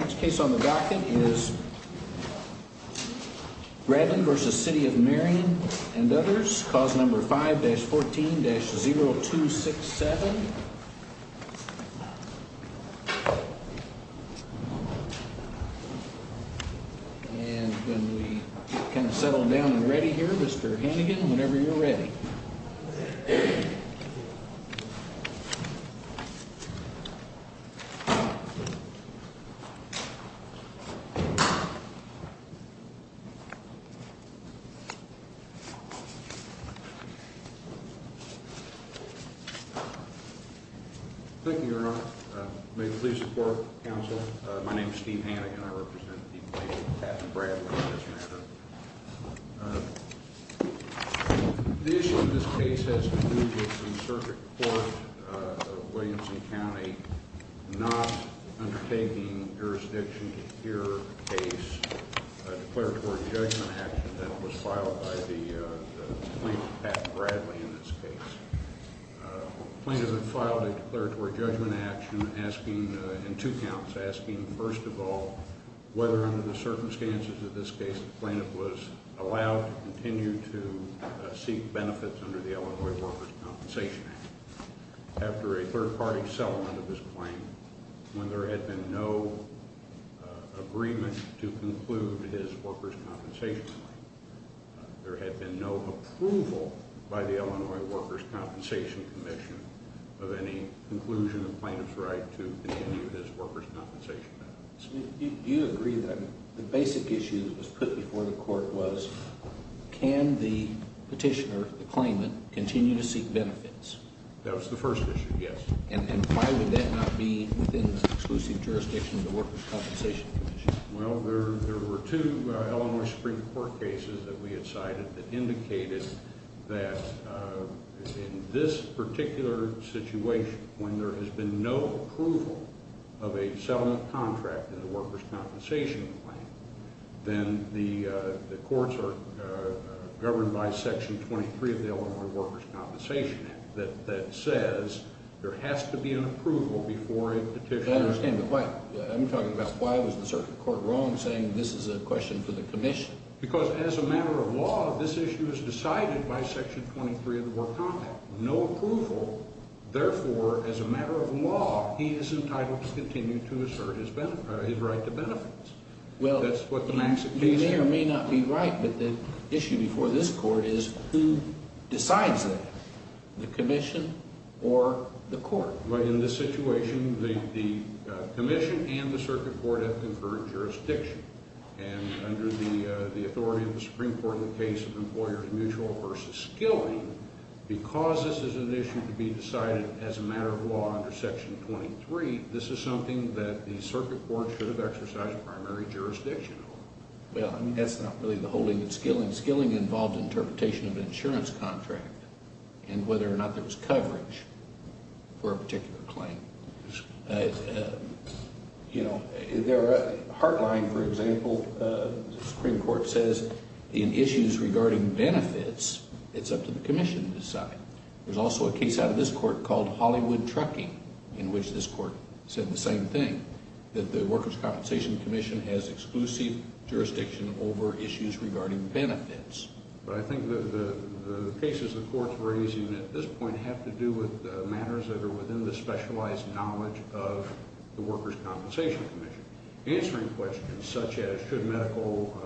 Next case on the docket is Bradley v. City of Marion and others. Cause number 5-14-0267 And when we kind of settle down and ready here, Mr. Hannigan, whenever you're ready. Thank you, Your Honor. May you please support the counsel. My name is Steve Hannigan. I represent the plaintiff, Captain Bradley, in this matter. The issue in this case has been moving from Circuit Court of Williamson County not undertaking jurisdiction to hear a case, a declaratory judgment action that was filed by the plaintiff, Captain Bradley, in this case. The plaintiff had filed a declaratory judgment action asking, in two counts, asking, first of all, whether under the circumstances of this case the plaintiff was allowed to continue to seek benefits under the Illinois Workers' Compensation Act. After a third-party settlement of his claim, when there had been no agreement to conclude his workers' compensation claim, there had been no approval by the Illinois Workers' Compensation Commission of any conclusion of the plaintiff's right to continue his workers' compensation benefits. Do you agree that the basic issue that was put before the court was can the petitioner, the claimant, continue to seek benefits? That was the first issue, yes. And why would that not be within the exclusive jurisdiction of the Workers' Compensation Commission? Well, there were two Illinois Supreme Court cases that we had cited that indicated that in this particular situation, when there has been no approval of a settlement contract in the workers' compensation claim, then the courts are governed by Section 23 of the Illinois Workers' Compensation Act that says there has to be an approval before a petitioner... I understand, but I'm talking about why was the circuit court wrong, saying this is a question for the commission? Because as a matter of law, this issue is decided by Section 23 of the work contract. No approval, therefore, as a matter of law, he is entitled to continue to assert his right to benefits. Well, the petitioner may or may not be right, but the issue before this court is who decides that, the commission or the court? In this situation, the commission and the circuit court have concurred jurisdiction. And under the authority of the Supreme Court in the case of employers' mutual versus skilling, because this is an issue to be decided as a matter of law under Section 23, this is something that the circuit court should have exercised primary jurisdiction over. Well, I mean, that's not really the holding of skilling. Skilling involved interpretation of an insurance contract and whether or not there was coverage for a particular claim. You know, there are... Heartline, for example, the Supreme Court says, in issues regarding benefits, it's up to the commission to decide. There's also a case out of this court called Hollywood Trucking, in which this court said the same thing, that the Workers' Compensation Commission has exclusive jurisdiction over issues regarding benefits. But I think the cases the court's raising at this point have to do with matters that are within the specialized knowledge of the Workers' Compensation Commission. Answering questions such as should medical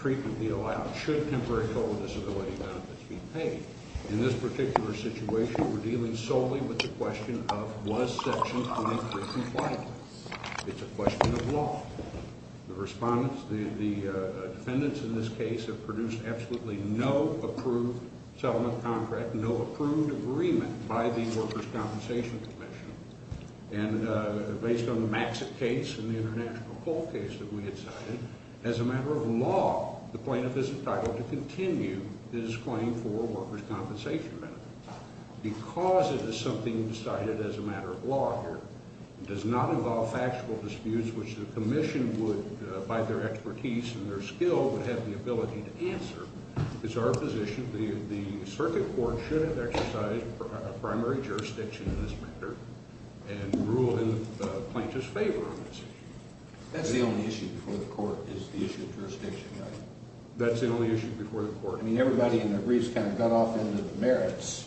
treatment be allowed, should temporary total disability benefits be paid. In this particular situation, we're dealing solely with the question of was Section 23 compliant. It's a question of law. The respondents, the defendants in this case have produced absolutely no approved settlement contract, no approved agreement by the Workers' Compensation Commission. And based on the Maxit case and the International Coal case that we had cited, as a matter of law, the plaintiff is entitled to continue his claim for workers' compensation benefits. Because it is something decided as a matter of law here, it does not involve factual disputes which the commission would, by their expertise and their skill, would have the ability to answer. It's our position the circuit court should have exercised primary jurisdiction in this matter and ruled in the plaintiff's favor on this issue. That's the only issue before the court is the issue of jurisdiction, right? That's the only issue before the court. I mean, everybody in their briefs kind of got off into the merits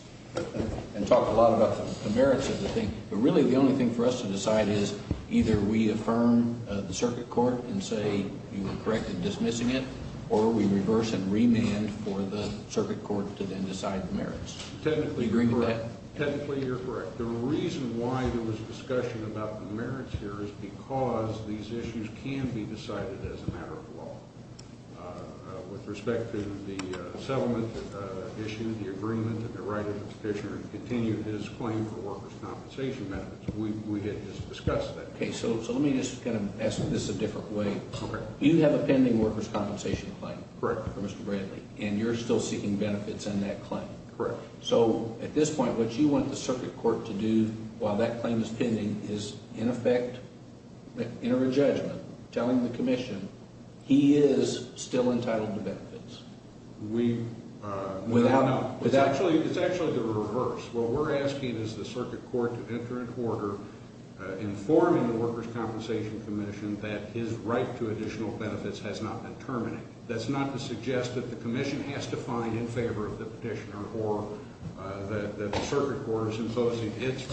and talked a lot about the merits of the thing, but really the only thing for us to decide is either we affirm the circuit court and say you were correct in dismissing it or we reverse and remand for the circuit court to then decide the merits. Technically, you're correct. The reason why there was a discussion about the merits here is because these issues can be decided as a matter of law with respect to the settlement issue, the agreement, and the right of the petitioner to continue his claim for workers' compensation benefits. We didn't just discuss that. Okay, so let me just kind of ask this a different way. You have a pending workers' compensation claim for Mr. Bradley, and you're still seeking benefits in that claim. Correct. So at this point, what you want the circuit court to do while that claim is pending is in effect enter a judgment telling the commission he is still entitled to benefits. We are not. It's actually the reverse. What we're asking is the circuit court to enter into order informing the workers' compensation commission that his right to additional benefits has not been terminated. That's not to suggest that the commission has to find in favor of the petitioner or that the circuit court is imposing its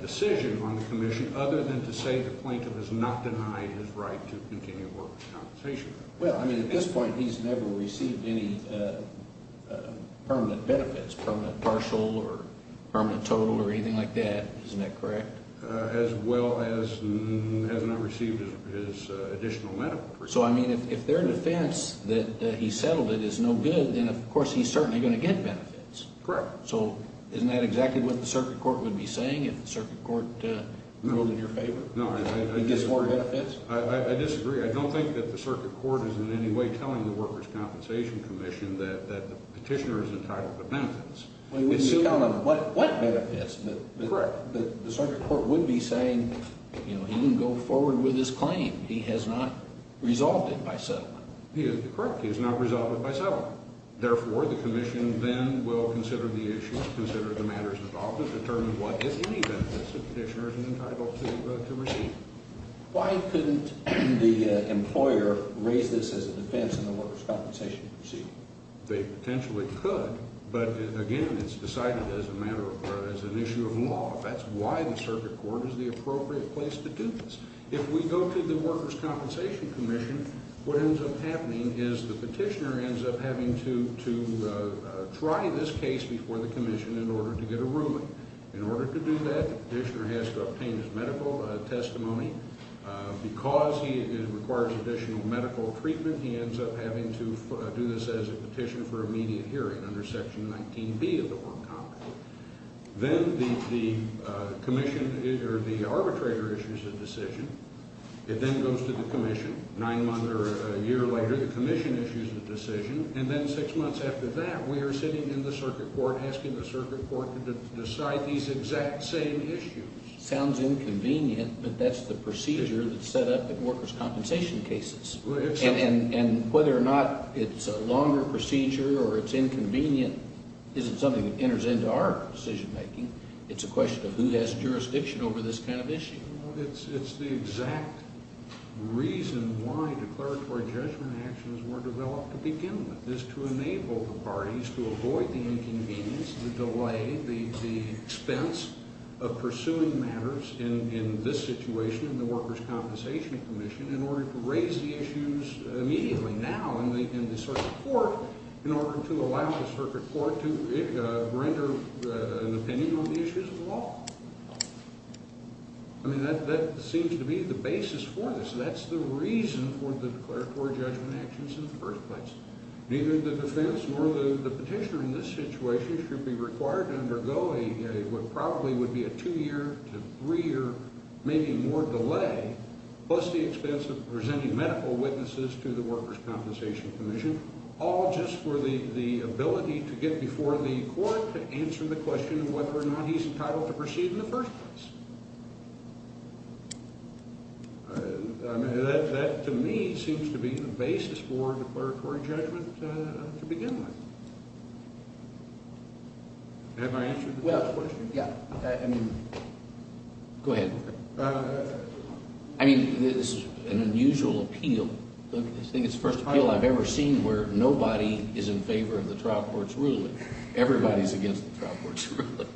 decision on the commission other than to say the plaintiff has not denied his right to continue workers' compensation. Well, I mean, at this point, he's never received any permanent benefits, permanent partial or permanent total or anything like that. Isn't that correct? As well as has not received his additional medical treatment. So, I mean, if their defense that he settled it is no good, then, of course, he's certainly going to get benefits. Correct. So isn't that exactly what the circuit court would be saying if the circuit court ruled in your favor? No, I disagree. He gets more benefits? I disagree. I don't think that the circuit court is in any way telling the workers' compensation commission that the petitioner is entitled to benefits. What benefits? Correct. The circuit court would be saying, you know, he didn't go forward with his claim. He has not resolved it by settlement. He is correct. He has not resolved it by settlement. Therefore, the commission then will consider the issue, consider the matters involved, and determine what is any benefits the petitioner is entitled to receive. Why couldn't the employer raise this as a defense in the workers' compensation proceeding? They potentially could, but, again, it's decided as an issue of law. That's why the circuit court is the appropriate place to do this. If we go to the workers' compensation commission, what ends up happening is the petitioner ends up having to try this case before the commission in order to get a ruling. In order to do that, the petitioner has to obtain his medical testimony. Because he requires additional medical treatment, he ends up having to do this as a petition for immediate hearing under Section 19B of the Warren Compact. Then the commission or the arbitrator issues a decision. It then goes to the commission. Nine months or a year later, the commission issues a decision. And then six months after that, we are sitting in the circuit court asking the circuit court to decide these exact same issues. Sounds inconvenient, but that's the procedure that's set up in workers' compensation cases. And whether or not it's a longer procedure or it's inconvenient isn't something that enters into our decision-making. It's a question of who has jurisdiction over this kind of issue. It's the exact reason why declaratory judgment actions were developed to begin with, is to enable the parties to avoid the inconvenience, the delay, the expense of pursuing matters in this situation, the Workers' Compensation Commission, in order to raise the issues immediately now in the circuit court, in order to allow the circuit court to render an opinion on the issues of the law. I mean, that seems to be the basis for this. That's the reason for the declaratory judgment actions in the first place. Neither the defense nor the petitioner in this situation should be required to undergo what probably would be a two-year to three-year, maybe more delay, plus the expense of presenting medical witnesses to the Workers' Compensation Commission, all just for the ability to get before the court to answer the question of whether or not he's entitled to proceed in the first place. That, to me, seems to be the basis for declaratory judgment to begin with. Have I answered the question? Yeah. Go ahead. I mean, this is an unusual appeal. I think it's the first appeal I've ever seen where nobody is in favor of the trial court's ruling. Everybody's against the trial court's ruling.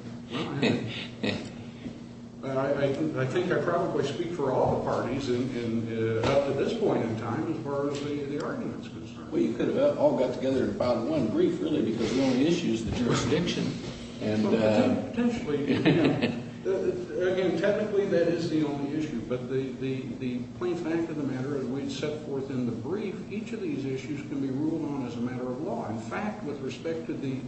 I think I probably speak for all the parties up to this point in time as far as the argument is concerned. Well, you could have all got together and filed one brief really because the only issue is the jurisdiction. But potentially, again, technically that is the only issue, but the plain fact of the matter is the way it's set forth in the brief, each of these issues can be ruled on as a matter of law. In fact, with respect to the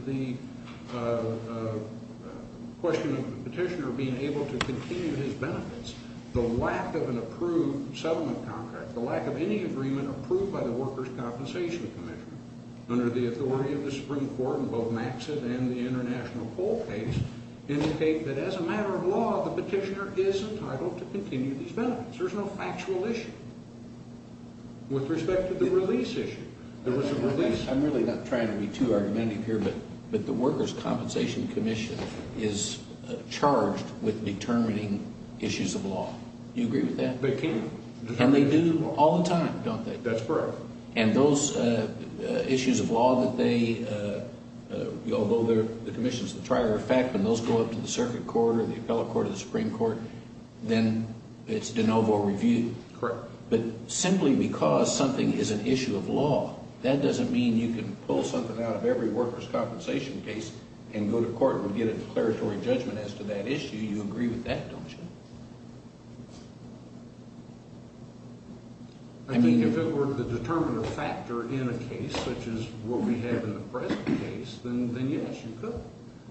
question of the petitioner being able to continue his benefits, the lack of an approved settlement contract, the lack of any agreement approved by the Workers' Compensation Commission, under the authority of the Supreme Court in both Maxson and the international poll case, indicate that as a matter of law, the petitioner is entitled to continue these benefits. There's no factual issue. With respect to the release issue, there was a release. I'm really not trying to be too argumentative here, but the Workers' Compensation Commission is charged with determining issues of law. Do you agree with that? They can. And they do all the time, don't they? That's correct. And those issues of law that they, although the commission is the trier of fact, when those go up to the circuit court or the appellate court or the Supreme Court, then it's de novo review. Correct. But simply because something is an issue of law, that doesn't mean you can pull something out of every Workers' Compensation case and go to court and get a declaratory judgment as to that issue. You agree with that, don't you? I mean, if it were the determiner factor in a case such as what we have in the present case, then yes, you could.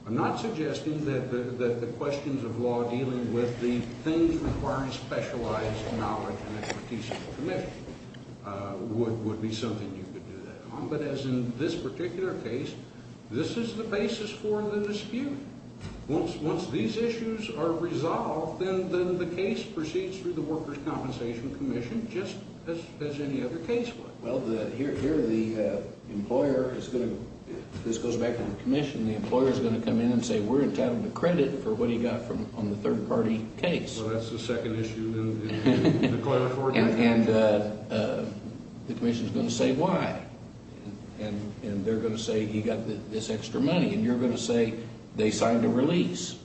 I'm not suggesting that the questions of law dealing with the things requiring specialized knowledge and expertise of the commission would be something you could do that on. But as in this particular case, this is the basis for the dispute. Once these issues are resolved, then the case proceeds through the Workers' Compensation Commission, just as any other case would. Well, here the employer is going to, this goes back to the commission, the employer is going to come in and say we're entitled to credit for what he got on the third-party case. Well, that's the second issue in the declaratory judgment. And the commission is going to say why. And they're going to say he got this extra money. And you're going to say they signed a release.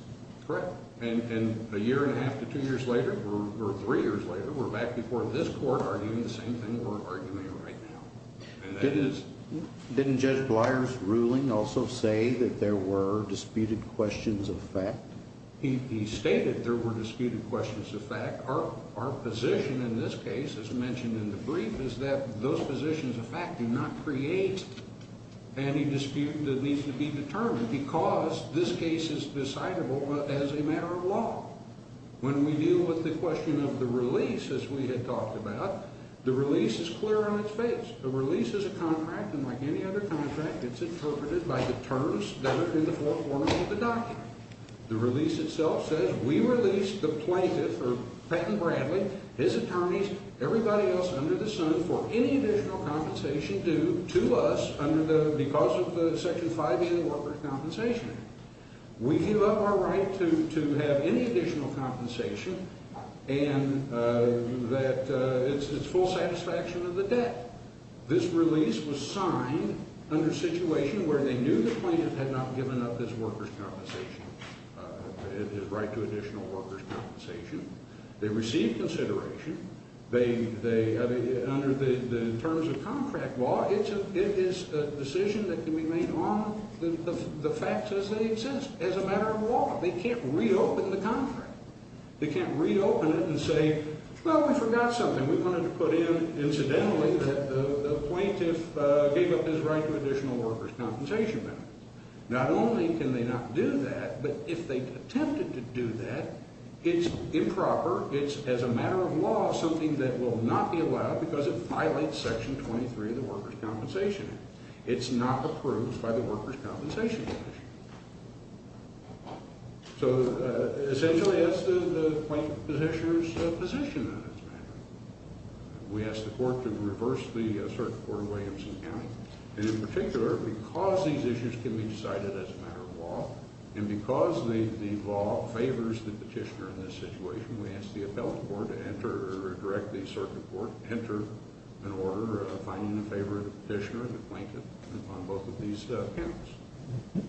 Correct. And a year and a half to two years later, or three years later, we're back before this court arguing the same thing we're arguing right now. Didn't Judge Blier's ruling also say that there were disputed questions of fact? He stated there were disputed questions of fact. Our position in this case, as mentioned in the brief, is that those positions of fact do not create any dispute that needs to be determined because this case is decidable as a matter of law. When we deal with the question of the release, as we had talked about, the release is clear on its face. The release is a contract, and like any other contract, it's interpreted by the terms that are in the forefront of the document. The release itself says we release the plaintiff or Patton Bradley, his attorneys, everybody else under the sun for any additional compensation due to us because of the Section 5A of the Workers' Compensation Act. We give up our right to have any additional compensation and that it's full satisfaction of the debt. This release was signed under a situation where they knew the plaintiff had not given up his workers' compensation, his right to additional workers' compensation. They received consideration. Under the terms of contract law, it is a decision that can be made on the facts as they exist, as a matter of law. They can't reopen the contract. They can't reopen it and say, well, we forgot something. We wanted to put in, incidentally, that the plaintiff gave up his right to additional workers' compensation benefits. Not only can they not do that, but if they attempted to do that, it's improper. It's, as a matter of law, something that will not be allowed because it violates Section 23 of the Workers' Compensation Act. It's not approved by the Workers' Compensation Commission. So essentially, that's the plaintiff's position on this matter. We asked the court to reverse the Circuit Court of Williamson County, and in particular, because these issues can be decided as a matter of law, and because the law favors the petitioner in this situation, we asked the appellate court to enter or direct the Circuit Court to enter an order finding in favor of the petitioner and the plaintiff on both of these counts. All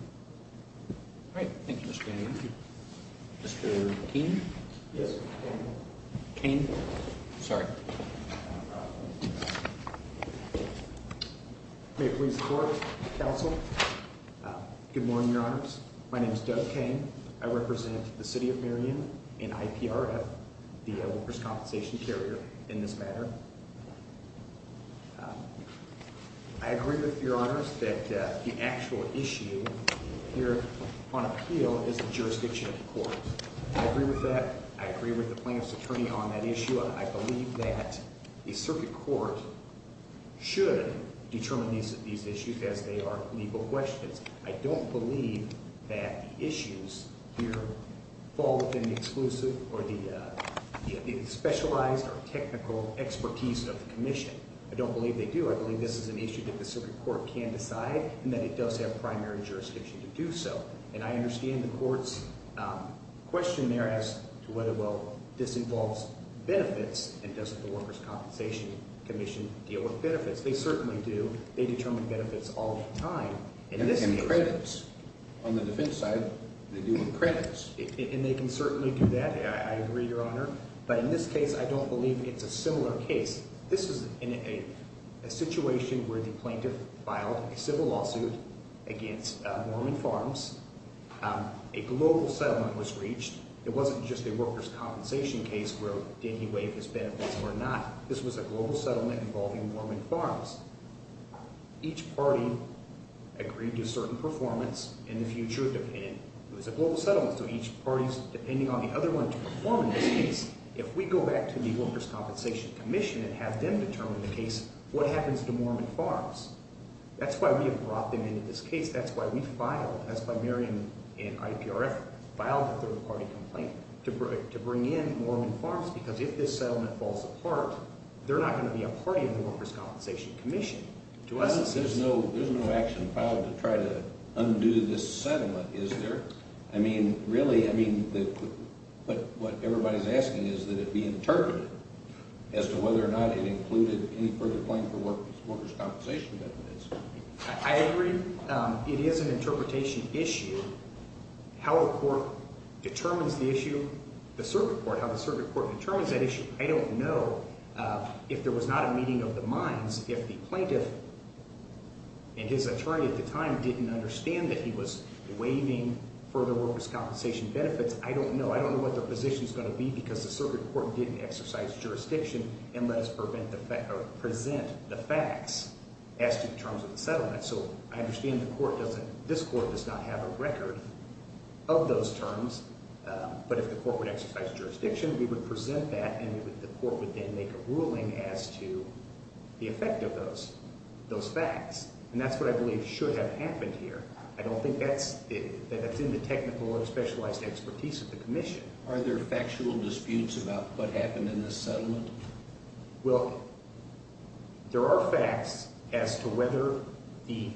right. Thank you, Mr. Kennedy. Mr. Keene? Yes, Mr. Kennedy. Keene? Sorry. May it please the Court, Counsel? Good morning, Your Honors. My name is Doug Keene. I represent the City of Marion and IPRF, the workers' compensation carrier, in this matter. I agree with Your Honors that the actual issue here on appeal is the jurisdiction of the court. I agree with that. I agree with the plaintiff's attorney on that issue. I believe that a circuit court should determine these issues as they are legal questions. I don't believe that the issues here fall within the exclusive or the specialized or technical expertise of the commission. I don't believe they do. I believe this is an issue that the circuit court can decide and that it does have primary jurisdiction to do so. And I understand the court's question there as to whether this involves benefits and does the workers' compensation commission deal with benefits. They certainly do. They determine benefits all the time. And credits. On the defense side, they deal with credits. And they can certainly do that. I agree, Your Honor. But in this case, I don't believe it's a similar case. This is in a situation where the plaintiff filed a civil lawsuit against Mormon Farms. A global settlement was reached. It wasn't just a workers' compensation case where did he waive his benefits or not. This was a global settlement involving Mormon Farms. Each party agreed to a certain performance in the future. It was a global settlement, so each party is depending on the other one to perform in this case. If we go back to the workers' compensation commission and have them determine the case, what happens to Mormon Farms? That's why we have brought them into this case. That's why we filed. That's why Marion and IPRF filed a third-party complaint to bring in Mormon Farms because if this settlement falls apart, they're not going to be a party in the workers' compensation commission. There's no action filed to try to undo this settlement, is there? I mean, really, what everybody is asking is that it be interpreted as to whether or not it included any further claim for workers' compensation benefits. I agree it is an interpretation issue. How a court determines the issue, the circuit court, how the circuit court determines that issue, I don't know. If there was not a meeting of the minds, if the plaintiff and his attorney at the time didn't understand that he was waiving further workers' compensation benefits, I don't know. I don't know what their position is going to be because the circuit court didn't exercise jurisdiction and let us present the facts as to the terms of the settlement. So I understand this court does not have a record of those terms, but if the court would exercise jurisdiction, we would present that and the court would then make a ruling as to the effect of those facts. And that's what I believe should have happened here. I don't think that's in the technical or specialized expertise of the commission. Are there factual disputes about what happened in this settlement? Well, there are facts as to whether the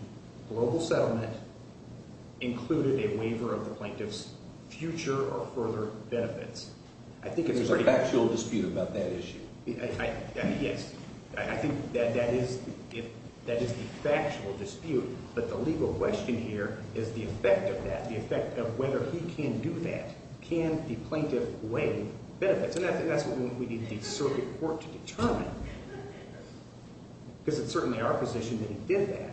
global settlement included a waiver of the plaintiff's future or further benefits. There's a factual dispute about that issue? Yes, I think that is the factual dispute, but the legal question here is the effect of that, the effect of whether he can do that. Can the plaintiff waive benefits? And I think that's what we need the circuit court to determine because it's certainly our position that he did that.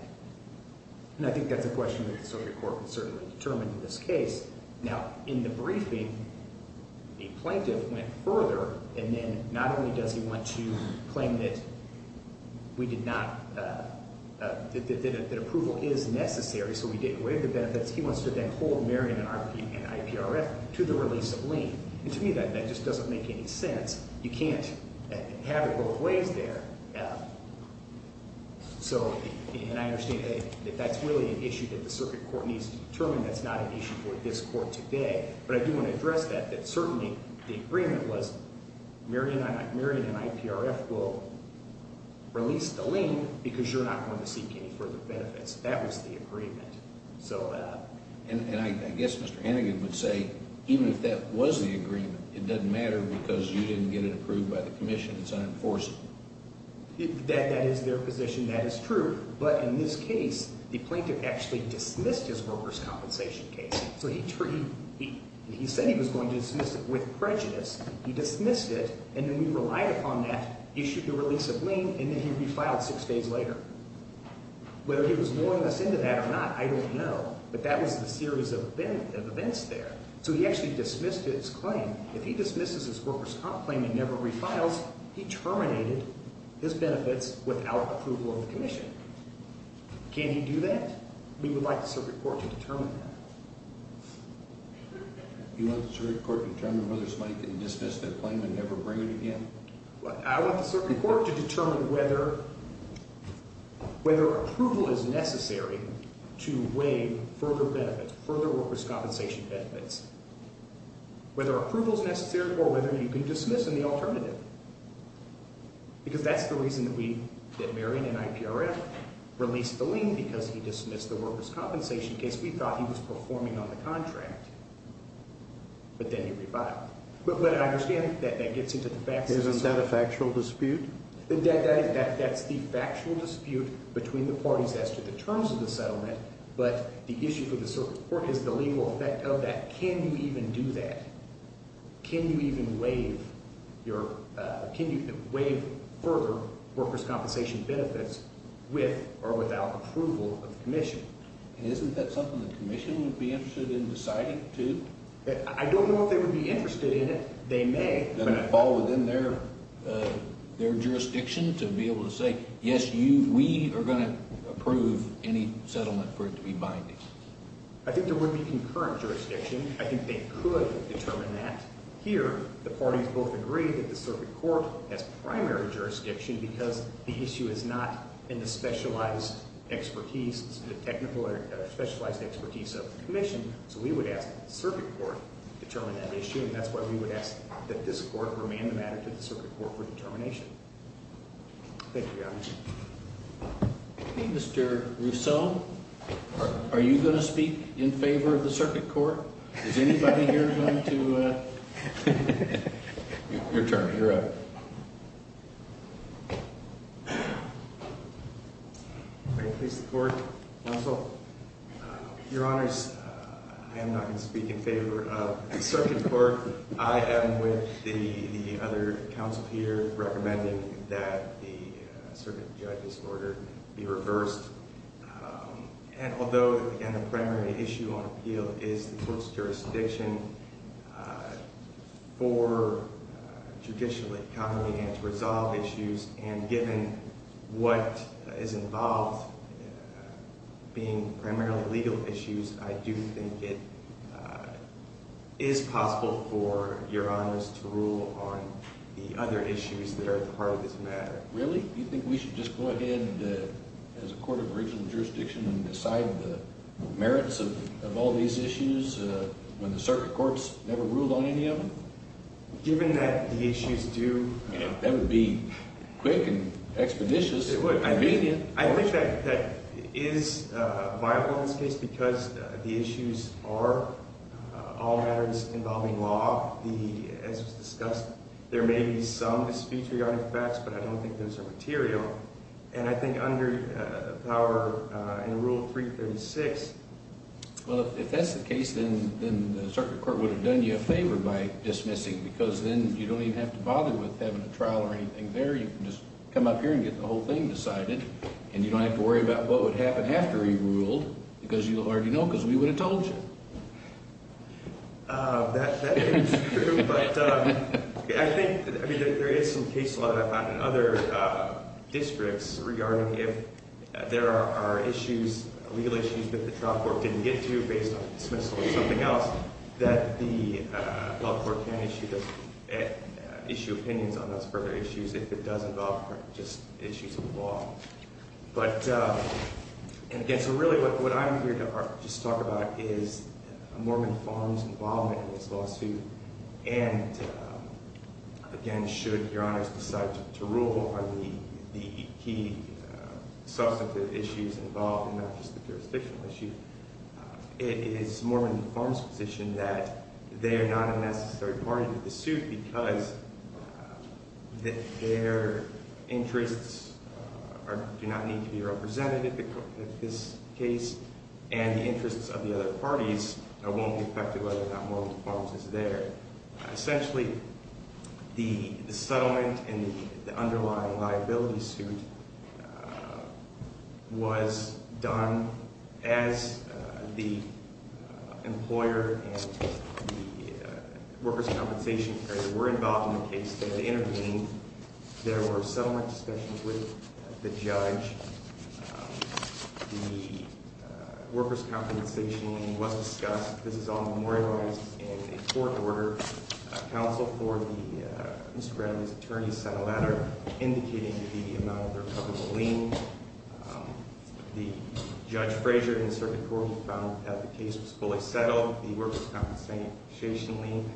And I think that's a question that the circuit court can certainly determine in this case. Now, in the briefing, the plaintiff went further, and then not only does he want to claim that we did not – that approval is necessary, so we did waive the benefits. He wants to then hold Marion and IPRF to the release of lien. And to me, that just doesn't make any sense. You can't have it both ways there. So – and I understand that that's really an issue that the circuit court needs to determine. That's not an issue for this court today. But I do want to address that, that certainly the agreement was Marion and IPRF will release the lien because you're not going to seek any further benefits. That was the agreement. And I guess Mr. Hannigan would say even if that was the agreement, it doesn't matter because you didn't get it approved by the commission. It's unenforceable. That is their position. That is true. But in this case, the plaintiff actually dismissed his workers' compensation case. So he said he was going to dismiss it with prejudice. He dismissed it, and then we relied upon that, issued the release of lien, and then he would be filed six days later. Whether he was luring us into that or not, I don't know. But that was the series of events there. So he actually dismissed his claim. If he dismisses his workers' comp claim and never refiles, he terminated his benefits without approval of the commission. Can he do that? We would like the circuit court to determine that. You want the circuit court to determine whether the plaintiff dismissed that claim and never bring it again? I want the circuit court to determine whether approval is necessary to waive further benefits, further workers' compensation benefits, whether approval is necessary or whether you can dismiss in the alternative, because that's the reason that Marion and IPRF released the lien because he dismissed the workers' compensation case. We thought he was performing on the contract, but then he reviled it. But I understand that that gets into the facts. Isn't that a factual dispute? That's the factual dispute between the parties as to the terms of the settlement, but the issue for the circuit court is the legal effect of that. Can you even do that? Can you even waive further workers' compensation benefits with or without approval of the commission? Isn't that something the commission would be interested in deciding, too? I don't know if they would be interested in it. They may. Doesn't it fall within their jurisdiction to be able to say, yes, we are going to approve any settlement for it to be binding? I think there would be concurrent jurisdiction. I think they could determine that. Here, the parties both agree that the circuit court has primary jurisdiction because the issue is not in the specialized expertise, the technical or specialized expertise of the commission. So we would ask the circuit court to determine that issue. And that's why we would ask that this court remand the matter to the circuit court for determination. Thank you, Your Honor. Mr. Rousseau, are you going to speak in favor of the circuit court? Is anybody here going to? Your turn. You're up. Thank you, Your Honor. Your Honor, I am not going to speak in favor of the circuit court. I am with the other counsel here recommending that the circuit judge's order be reversed. And although, again, the primary issue on appeal is the court's jurisdiction for judicial economy and to resolve issues, and given what is involved being primarily legal issues, I do think it is possible for Your Honors to rule on the other issues that are part of this matter. Really? You think we should just go ahead as a court of original jurisdiction and decide the merits of all these issues when the circuit court's never ruled on any of them? Given that the issues do – That would be quick and expeditious. It would. I mean – I think that is viable in this case because the issues are all matters involving law. As was discussed, there may be some disfetriot effects, but I don't think those are material. And I think under power in Rule 336 – Well, if that's the case, then the circuit court would have done you a favor by dismissing, because then you don't even have to bother with having a trial or anything there. You can just come up here and get the whole thing decided, and you don't have to worry about what would happen after he ruled, because you already know, because we would have told you. That is true, but I think there is some case law that I've found in other districts regarding if there are issues, legal issues that the trial court didn't get to based on dismissal or something else, that the court can issue opinions on those further issues if it does involve just issues of law. But, again, so really what I'm here to just talk about is Mormon Farms' involvement in this lawsuit. And, again, should Your Honors decide to rule on the key substantive issues involved and not just the jurisdictional issue, it is Mormon Farms' position that they are not a necessary party to the suit because their interests do not need to be represented in this case, and the interests of the other parties won't be affected whether or not Mormon Farms is there. Essentially, the settlement and the underlying liability suit was done as the employer and the workers' compensation area were involved in the case. They had intervened. There were settlement discussions with the judge. The workers' compensation was discussed. This is all memorialized in a court order. Counsel for Mr. Bradley's attorney sent a letter indicating the amount of the recoverable lien. The judge Frazier in the circuit court found that the case was fully settled. The workers' compensation lien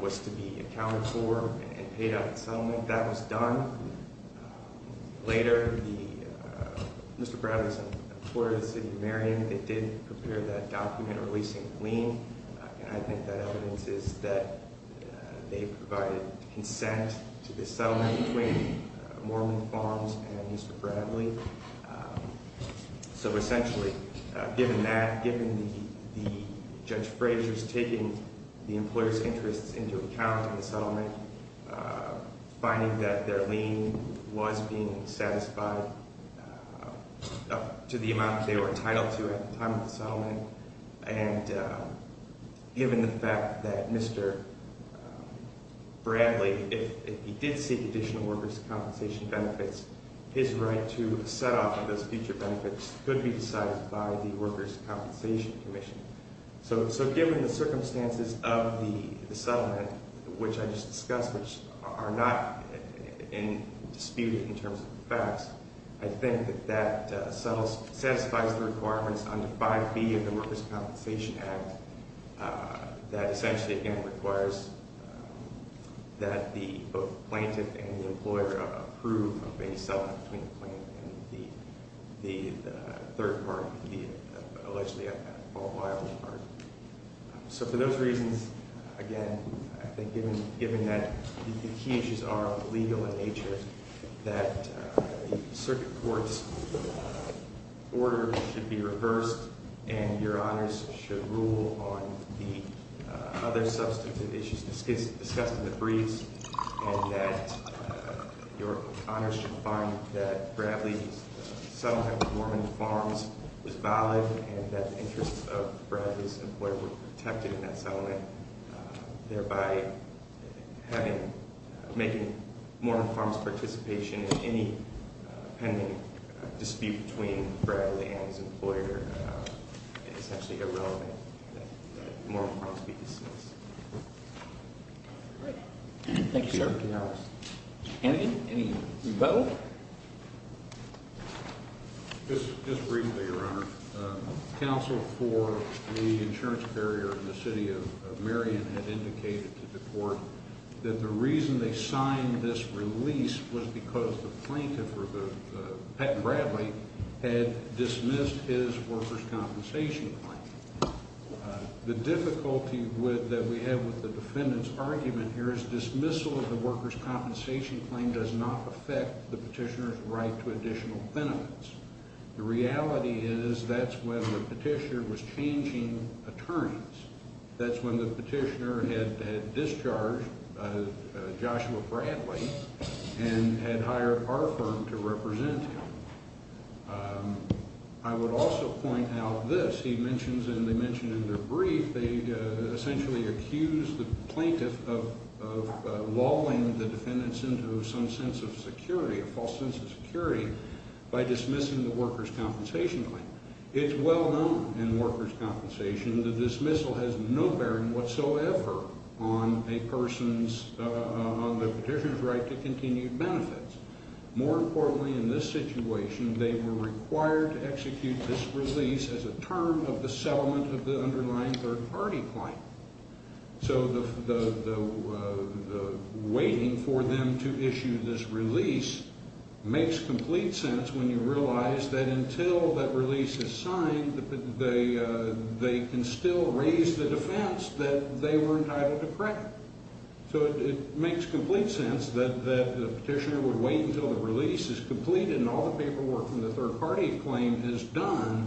was to be accounted for and paid out in settlement. That was done. Later, Mr. Bradley's employer, the city of Marion, they did prepare that document releasing the lien, and I think that evidence is that they provided consent to this settlement between Mormon Farms and Mr. Bradley. So, essentially, given that, given the judge Frazier's taking the employer's interests into account in the settlement, finding that their lien was being satisfied up to the amount they were entitled to at the time of the settlement, and given the fact that Mr. Bradley, if he did seek additional workers' compensation benefits, his right to set off on those future benefits could be decided by the workers' compensation commission. So, given the circumstances of the settlement, which I just discussed, which are not disputed in terms of the facts, I think that that satisfies the requirements under 5B of the Workers' Compensation Act that essentially, again, requires that the plaintiff and the employer approve a settlement between the plaintiff and the third party, allegedly a fault liable party. So, for those reasons, again, I think given that the key issues are legal in nature, I think that the circuit court's order should be reversed, and your honors should rule on the other substantive issues discussed in the briefs, and that your honors should find that Bradley's settlement with Mormon Farms was valid, and that the interests of Bradley's employer were protected in that settlement, thereby making Mormon Farms' participation in any pending dispute between Bradley and his employer essentially irrelevant, and that Mormon Farms be dismissed. Great. Thank you, sir. Anything else? Any rebuttal? Just briefly, your honor. Counsel for the insurance carrier in the city of Marion had indicated to the court that the reason they signed this release was because the plaintiff, Patton Bradley, had dismissed his workers' compensation claim. The difficulty that we have with the defendant's argument here is that the dismissal of the workers' compensation claim does not affect the petitioner's right to additional benefits. The reality is that's when the petitioner was changing attorneys. That's when the petitioner had discharged Joshua Bradley and had hired our firm to represent him. I would also point out this. As he mentions, and they mention in their brief, they essentially accused the plaintiff of lulling the defendants into some sense of security, a false sense of security, by dismissing the workers' compensation claim. It's well known in workers' compensation that the dismissal has no bearing whatsoever on the petitioner's right to continued benefits. More importantly in this situation, they were required to execute this release as a term of the settlement of the underlying third-party claim. So the waiting for them to issue this release makes complete sense when you realize that until that release is signed, they can still raise the defense that they were entitled to correct. So it makes complete sense that the petitioner would wait until the release is complete and all the paperwork from the third-party claim is done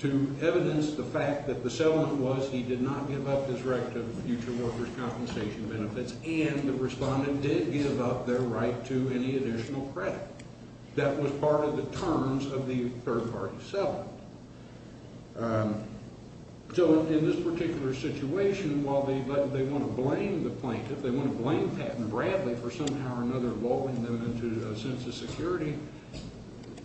to evidence the fact that the settlement was he did not give up his right to future workers' compensation benefits and the respondent did give up their right to any additional credit. That was part of the terms of the third-party settlement. So in this particular situation, while they want to blame the plaintiff, they want to blame Patton Bradley for somehow or another lulling them into a sense of security,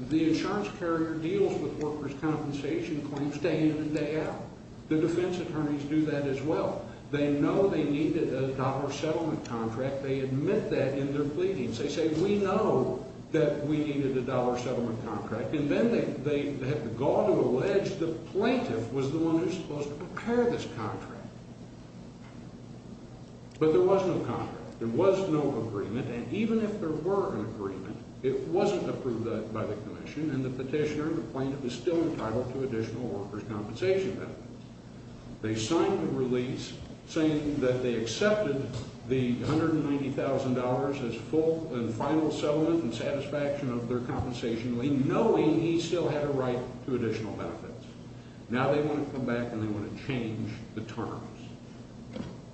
the insurance carrier deals with workers' compensation claims day in and day out. The defense attorneys do that as well. They know they needed a dollar settlement contract. They admit that in their pleadings. They say, we know that we needed a dollar settlement contract. And then they have the gall to allege the plaintiff was the one who was supposed to prepare this contract. But there was no contract. There was no agreement, and even if there were an agreement, it wasn't approved by the commission, and the petitioner and the plaintiff is still entitled to additional workers' compensation benefits. They signed the release saying that they accepted the $190,000 as full and final settlement in satisfaction of their compensation, knowing he still had a right to additional benefits. Now they want to come back and they want to change the terms.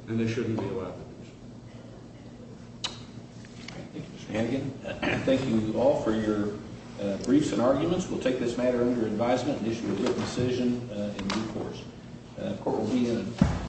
And they shouldn't be allowed to do so. Thank you, Mr. Hannigan. Thank you all for your briefs and arguments. We'll take this matter under advisement and issue a written decision in due course.